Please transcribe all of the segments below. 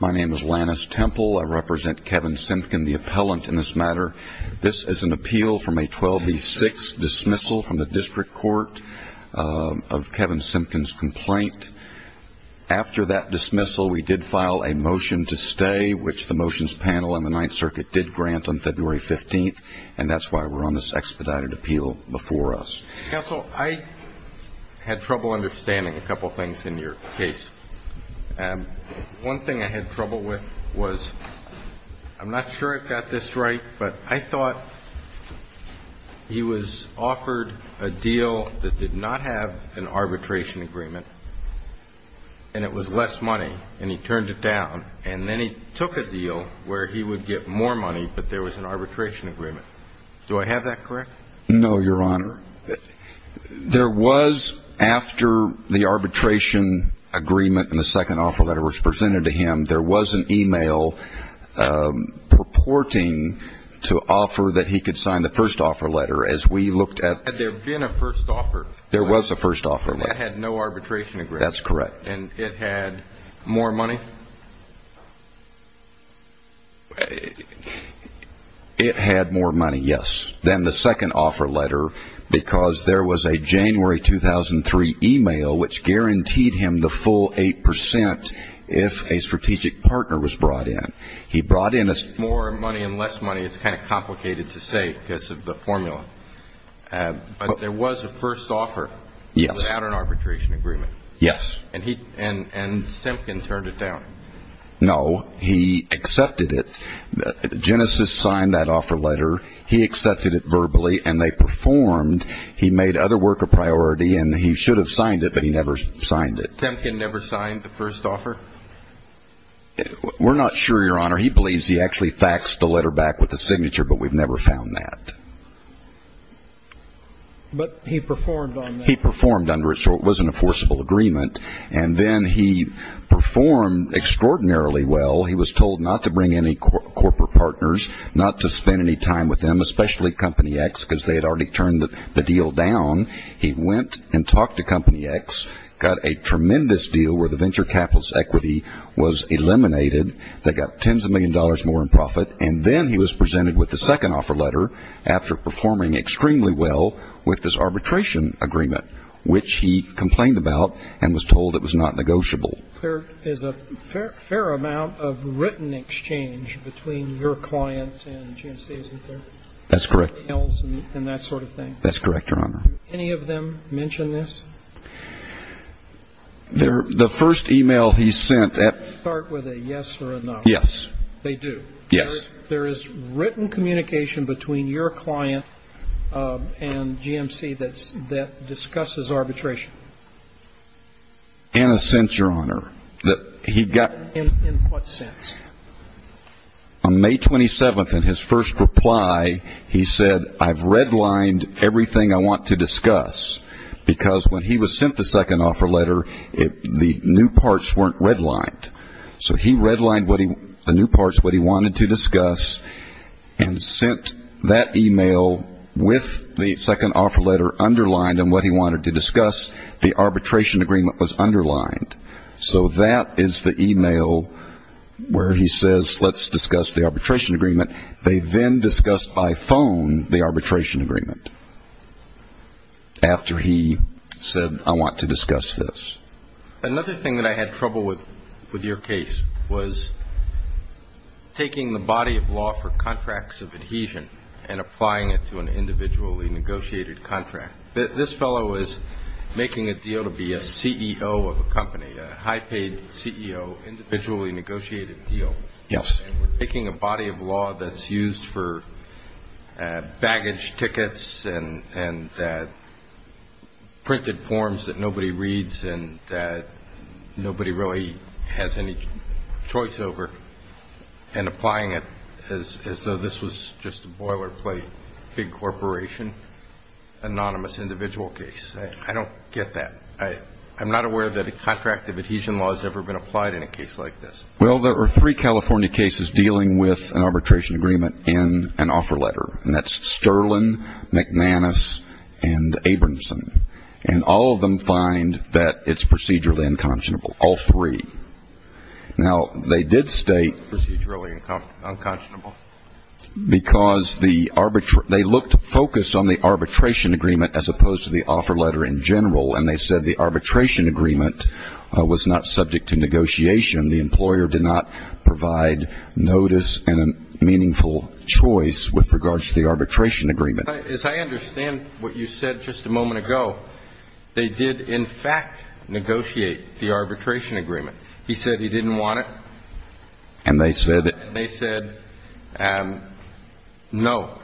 My name is Lannis Temple. I represent Kevin Simpkin, the appellant in this matter. This is an appeal from a 12B6 dismissal from the district court of Kevin Simpkin's complaint. After that dismissal, we did file a motion to stay, which the motions panel in the Ninth Circuit did grant on February 15th, and that's why we're on this expedited appeal before us. Counsel, I had trouble understanding a couple of things in your case. One thing I had trouble with was, I'm not sure I got this right, but I thought he was offered a deal that did not have an arbitration agreement, and it was less money, and he turned it down, and then he took a deal where he would get more money, but there was an arbitration agreement. Do I have that correct? No, Your Honor. There was, after the arbitration agreement and the second offer letter was presented to him, there was an e-mail purporting to offer that he could sign the first offer letter. Had there been a first offer? There was a first offer letter. It had no arbitration agreement? That's correct. And it had more money? It had more money, yes, than the second offer letter, because there was a January 2003 e-mail which guaranteed him the full 8 percent if a strategic partner was brought in. He brought in more money and less money. It's kind of complicated to say because of the formula, but there was a first offer without an arbitration agreement. And Simpkin turned it down. No, he accepted it. Genesis signed that offer letter. He accepted it verbally, and they performed. He made other work a priority, and he should have signed it, but he never signed it. Simpkin never signed the first offer? We're not sure, Your Honor. He believes he actually faxed the letter back with a signature, but we've never found that. But he performed on that? He performed under it, so it wasn't a forcible agreement. And then he performed extraordinarily well. He was told not to bring any corporate partners, not to spend any time with them, especially Company X, because they had already turned the deal down. He went and talked to Company X, got a tremendous deal where the venture capital's equity was eliminated. They got tens of millions of dollars more in profit. And then he was presented with the second offer letter after performing extremely well with this arbitration agreement, which he complained about and was told it was not negotiable. There is a fair amount of written exchange between your client and GMC, isn't there? That's correct. And that sort of thing. That's correct, Your Honor. Any of them mention this? The first e-mail he sent at ---- They start with a yes or a no. Yes. They do? Yes. There is written communication between your client and GMC that discusses arbitration? In a sense, Your Honor. In what sense? On May 27th, in his first reply, he said, I've redlined everything I want to discuss, because when he was sent the second offer letter, the new parts weren't redlined. So he redlined the new parts, what he wanted to discuss, and sent that e-mail with the second offer letter underlined and what he wanted to discuss. The arbitration agreement was underlined. So that is the e-mail where he says, let's discuss the arbitration agreement. They then discussed by phone the arbitration agreement after he said, I want to discuss this. Another thing that I had trouble with with your case was taking the body of law for contracts of adhesion and applying it to an individually negotiated contract. This fellow was making a deal to be a CEO of a company, a high-paid CEO, individually negotiated deal. Yes. We're taking a body of law that's used for baggage tickets and printed forms that nobody reads and nobody really has any choice over and applying it as though this was just a boilerplate big corporation anonymous individual case. I don't get that. I'm not aware that a contract of adhesion law has ever been applied in a case like this. Well, there were three California cases dealing with an arbitration agreement in an offer letter, and that's Sterlin, McManus, and Abramson, and all of them find that it's procedurally unconscionable, all three. Now, they did state procedurally unconscionable because they looked focused on the arbitration agreement as opposed to the offer letter in general, and they said the arbitration agreement was not subject to negotiation. The employer did not provide notice and a meaningful choice with regards to the arbitration agreement. As I understand what you said just a moment ago, they did, in fact, negotiate the arbitration agreement. He said he didn't want it. And they said it. And they said no.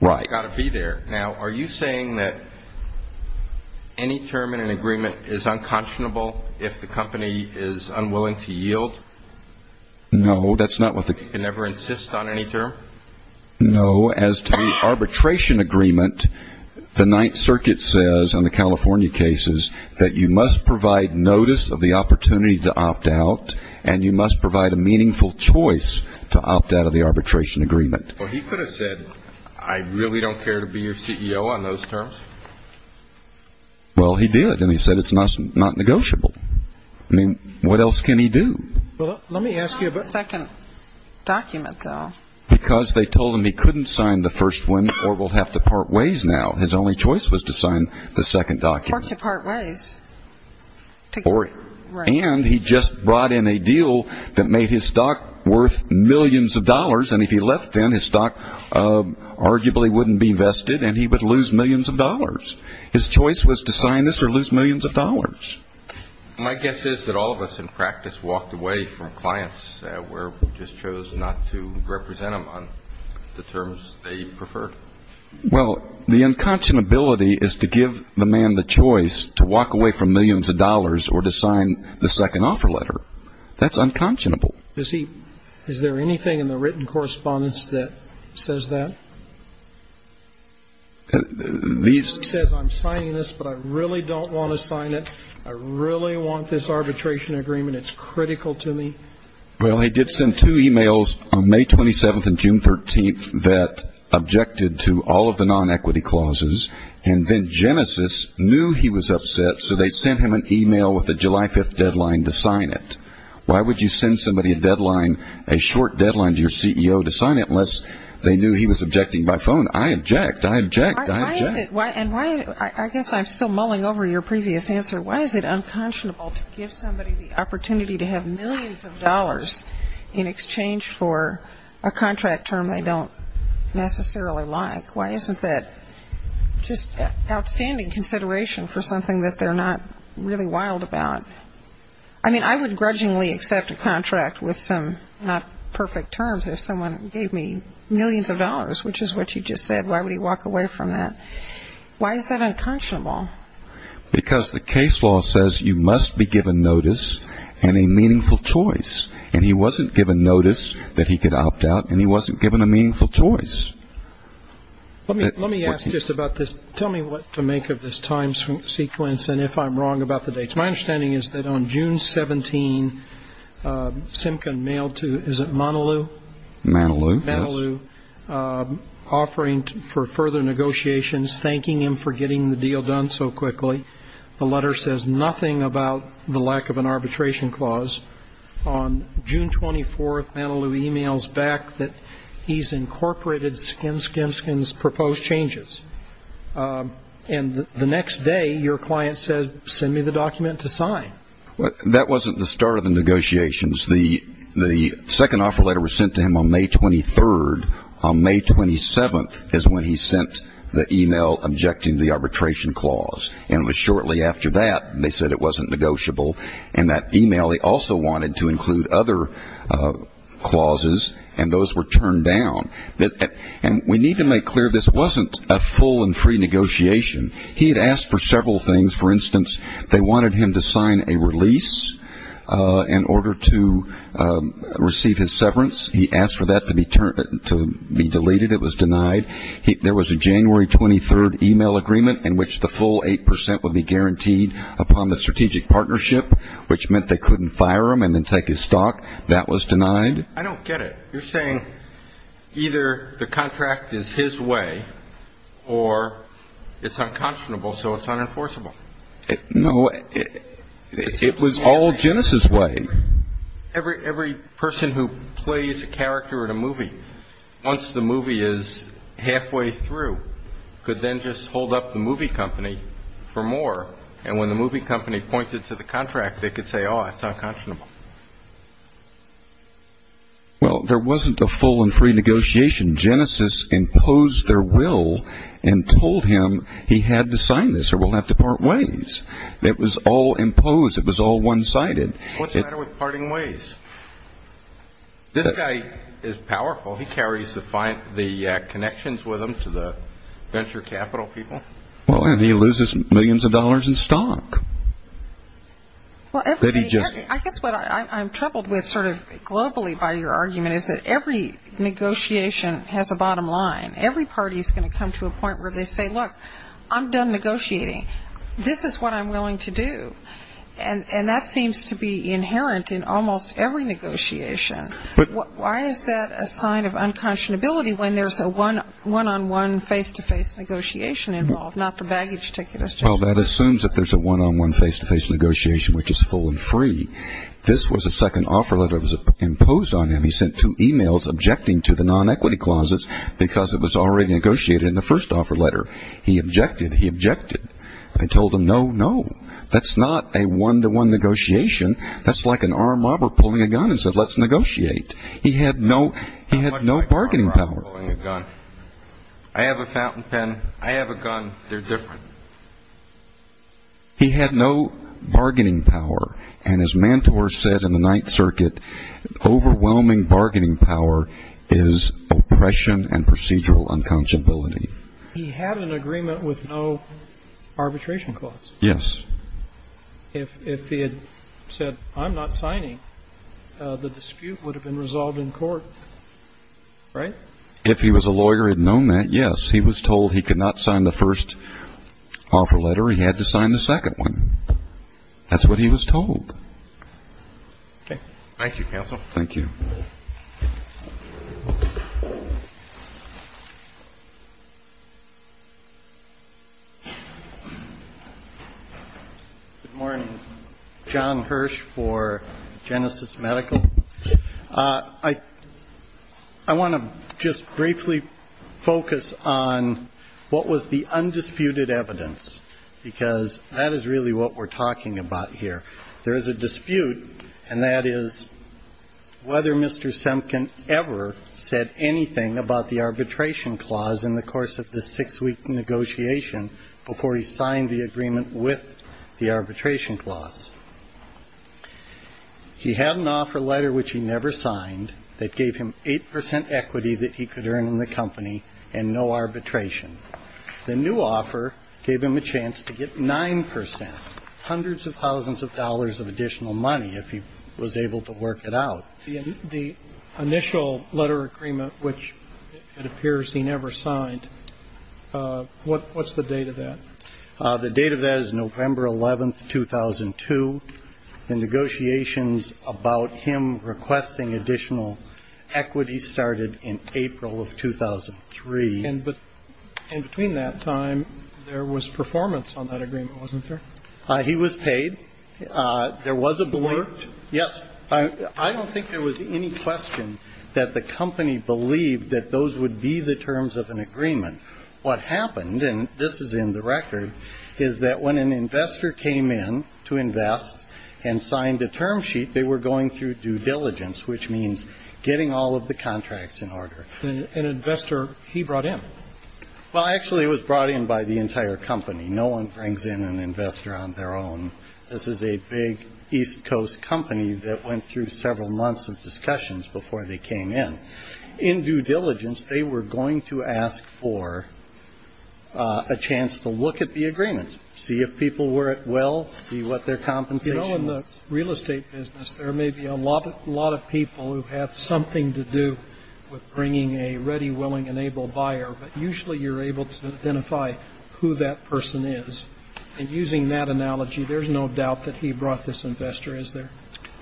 Right. It's got to be there. Now, are you saying that any term in an agreement is unconscionable if the company is unwilling to yield? No. That's not what the company can ever insist on any term? No. As to the arbitration agreement, the Ninth Circuit says on the California cases that you must provide notice of the opportunity to opt out and you must provide a meaningful choice to opt out of the arbitration agreement. Well, he could have said, I really don't care to be your CEO on those terms. Well, he did, and he said it's not negotiable. I mean, what else can he do? Well, let me ask you about the second document, though. Because they told him he couldn't sign the first one or will have to part ways now. His only choice was to sign the second document. Or to part ways. And he just brought in a deal that made his stock worth millions of dollars, and if he left then his stock arguably wouldn't be invested and he would lose millions of dollars. His choice was to sign this or lose millions of dollars. My guess is that all of us in practice walked away from clients where we just chose not to represent them on the terms they preferred. Well, the unconscionability is to give the man the choice to walk away from millions of dollars or to sign the second offer letter. That's unconscionable. Is there anything in the written correspondence that says that? He says, I'm signing this, but I really don't want to sign it. I really want this arbitration agreement. It's critical to me. Well, he did send two e-mails on May 27th and June 13th that objected to all of the non-equity clauses. And then Genesis knew he was upset, so they sent him an e-mail with a July 5th deadline to sign it. Why would you send somebody a deadline, a short deadline to your CEO to sign it unless they knew he was objecting by phone? I object. I object. I object. And I guess I'm still mulling over your previous answer. Why is it unconscionable to give somebody the opportunity to have millions of dollars in exchange for a contract term they don't necessarily like? Why isn't that just outstanding consideration for something that they're not really wild about? I mean, I would grudgingly accept a contract with some not perfect terms if someone gave me millions of dollars, which is what you just said. Why would he walk away from that? Why is that unconscionable? Because the case law says you must be given notice and a meaningful choice. And he wasn't given notice that he could opt out, and he wasn't given a meaningful choice. Let me ask just about this. Tell me what to make of this time sequence and if I'm wrong about the dates. My understanding is that on June 17, Simkin mailed to, is it Manalou? Manalou, offering for further negotiations, thanking him for getting the deal done so quickly. The letter says nothing about the lack of an arbitration clause. On June 24, Manalou emails back that he's incorporated Skim Skim Skim's proposed changes. And the next day, your client says, send me the document to sign. That wasn't the start of the negotiations. The second offer letter was sent to him on May 23. On May 27 is when he sent the email objecting to the arbitration clause. And it was shortly after that they said it wasn't negotiable. In that email, he also wanted to include other clauses, and those were turned down. And we need to make clear this wasn't a full and free negotiation. He had asked for several things. For instance, they wanted him to sign a release in order to receive his severance. He asked for that to be deleted. It was denied. There was a January 23 email agreement in which the full 8 percent would be guaranteed upon the strategic partnership, which meant they couldn't fire him and then take his stock. That was denied. I don't get it. You're saying either the contract is his way or it's unconscionable, so it's unenforceable. No, it was all Genesis' way. Every person who plays a character in a movie, once the movie is halfway through, could then just hold up the movie company for more. And when the movie company pointed to the contract, they could say, oh, it's unconscionable. Well, there wasn't a full and free negotiation. Genesis imposed their will and told him he had to sign this or we'll have to part ways. It was all imposed. It was all one-sided. What's the matter with parting ways? This guy is powerful. He carries the connections with him to the venture capital people. Well, and he loses millions of dollars in stock. I guess what I'm troubled with sort of globally by your argument is that every negotiation has a bottom line. Every party is going to come to a point where they say, look, I'm done negotiating. This is what I'm willing to do. And that seems to be inherent in almost every negotiation. Why is that a sign of unconscionability when there's a one-on-one face-to-face negotiation involved, not the baggage ticket? Well, that assumes that there's a one-on-one face-to-face negotiation, which is full and free. This was a second offer letter that was imposed on him. He sent two e-mails objecting to the non-equity clauses because it was already negotiated in the first offer letter. He objected. He objected. I told him, no, no. That's not a one-to-one negotiation. That's like an armed robber pulling a gun and said, let's negotiate. He had no bargaining power. I have a fountain pen. I have a gun. They're different. He had no bargaining power. And his mentor said in the Ninth Circuit, overwhelming bargaining power is oppression and procedural unconscionability. He had an agreement with no arbitration clause. Yes. If he had said, I'm not signing, the dispute would have been resolved in court, right? If he was a lawyer, he'd known that, yes. He was told he could not sign the first offer letter. He had to sign the second one. That's what he was told. Okay. Thank you, counsel. Thank you. Good morning. John Hirsch for Genesis Medical. I want to just briefly focus on what was the undisputed evidence, because that is really what we're talking about here. There is a dispute, and that is whether Mr. Semkin ever said anything about the arbitration clause in the course of the six-week negotiation before he signed the agreement with the arbitration clause. He had an offer letter, which he never signed, that gave him 8 percent equity that he could earn in the company and no arbitration. The new offer gave him a chance to get 9 percent, hundreds of thousands of dollars of additional money if he was able to work it out. The initial letter agreement, which it appears he never signed, what's the date of that? The date of that is November 11th, 2002. The negotiations about him requesting additional equity started in April of 2003. And between that time, there was performance on that agreement, wasn't there? He was paid. There was a board. Yes. I don't think there was any question that the company believed that those would be the terms of an agreement. What happened, and this is in the record, is that when an investor came in to invest and signed a term sheet, they were going through due diligence, which means getting all of the contracts in order. An investor he brought in? Well, actually, it was brought in by the entire company. No one brings in an investor on their own. This is a big East Coast company that went through several months of discussions before they came in. In due diligence, they were going to ask for a chance to look at the agreement, see if people were at will, see what their compensation was. You know, in the real estate business, there may be a lot of people who have something to do with bringing a ready, willing, and able buyer. But usually you're able to identify who that person is. And using that analogy, there's no doubt that he brought this investor, is there?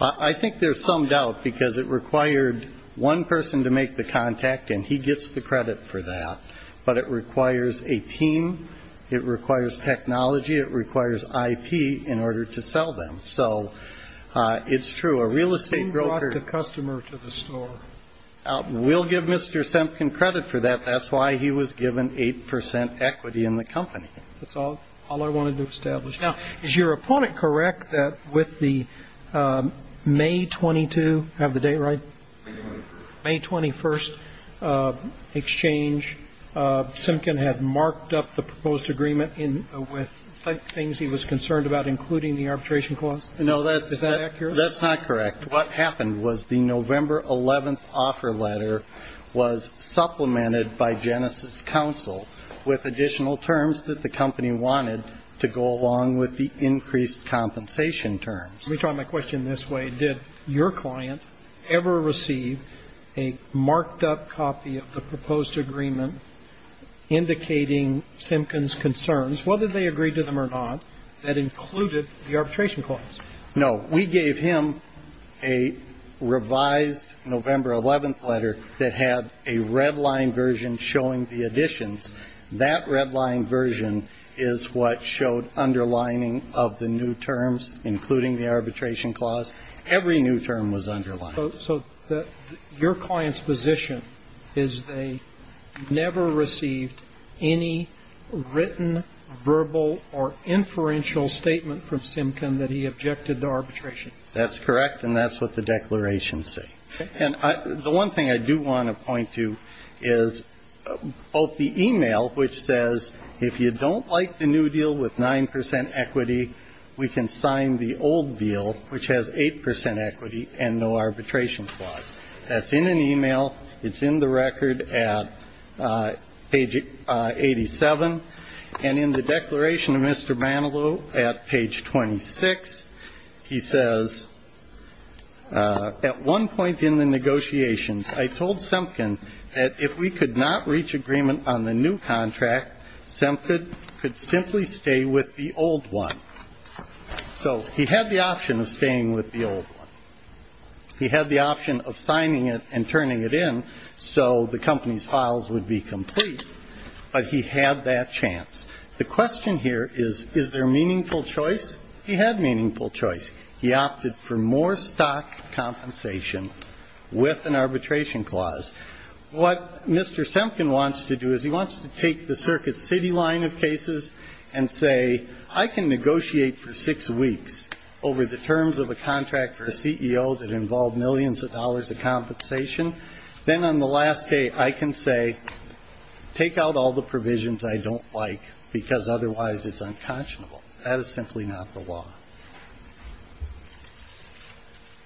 I think there's some doubt because it required one person to make the contact, and he gets the credit for that. But it requires a team. It requires technology. It requires IP in order to sell them. So it's true. A real estate broker. Who brought the customer to the store? We'll give Mr. Semkin credit for that. That's why he was given 8 percent equity in the company. That's all I wanted to establish. Now, is your opponent correct that with the May 22, I have the date right? May 21st. May 21st exchange, Semkin had marked up the proposed agreement with things he was concerned about, including the arbitration clause? Is that accurate? No, that's not correct. What happened was the November 11th offer letter was supplemented by Genesis Council with additional terms that the company wanted to go along with the increased compensation terms. Let me try my question this way. Did your client ever receive a marked-up copy of the proposed agreement indicating Semkin's concerns, whether they agreed to them or not, that included the arbitration clause? We gave him a revised November 11th letter that had a red-line version showing the additions. That red-line version is what showed underlining of the new terms, including the arbitration clause. Every new term was underlined. So your client's position is they never received any written, verbal, or inferential statement from Semkin that he objected to arbitration? That's correct, and that's what the declarations say. Okay. And the one thing I do want to point to is both the e-mail, which says if you don't like the new deal with 9 percent equity, we can sign the old deal, which has 8 percent equity and no arbitration clause. That's in an e-mail. It's in the record at page 87. And in the declaration of Mr. Manilow at page 26, he says, at one point in the negotiations, I told Semkin that if we could not reach agreement on the new contract, Semkin could simply stay with the old one. So he had the option of staying with the old one. He had the option of signing it and turning it in so the company's files would be The question here is, is there meaningful choice? He had meaningful choice. He opted for more stock compensation with an arbitration clause. What Mr. Semkin wants to do is he wants to take the Circuit City line of cases and say, I can negotiate for six weeks over the terms of a contract for a CEO that involved millions of dollars of compensation. Then on the last day, I can say, take out all the provisions I don't like because otherwise it's unconscionable. That is simply not the law.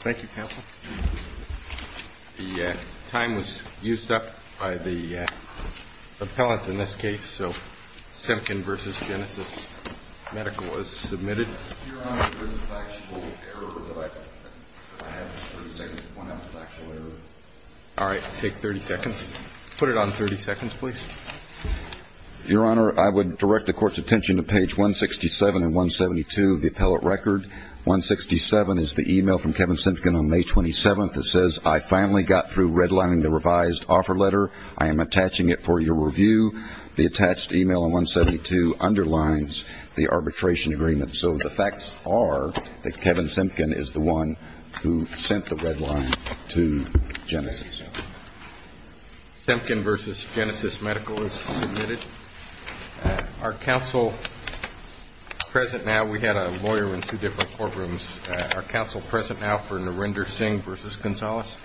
Thank you, counsel. The time was used up by the appellant in this case, so Semkin v. Genesis Medical was submitted. Your Honor, I would direct the Court's attention to page 167 and 172 of the appellate record. 167 is the e-mail from Kevin Semkin on May 27th that says, I finally got through redlining the revised offer letter. I am attaching it for your review. The attached e-mail in 172 underlines the arbitration agreement, so it says, I finally got through redlining the revised offer letter. The facts are that Kevin Semkin is the one who sent the redline to Genesis. Semkin v. Genesis Medical is submitted. Are counsel present now? We had a lawyer in two different courtrooms. Are counsel present now for Narendra Singh v. Gonzalez?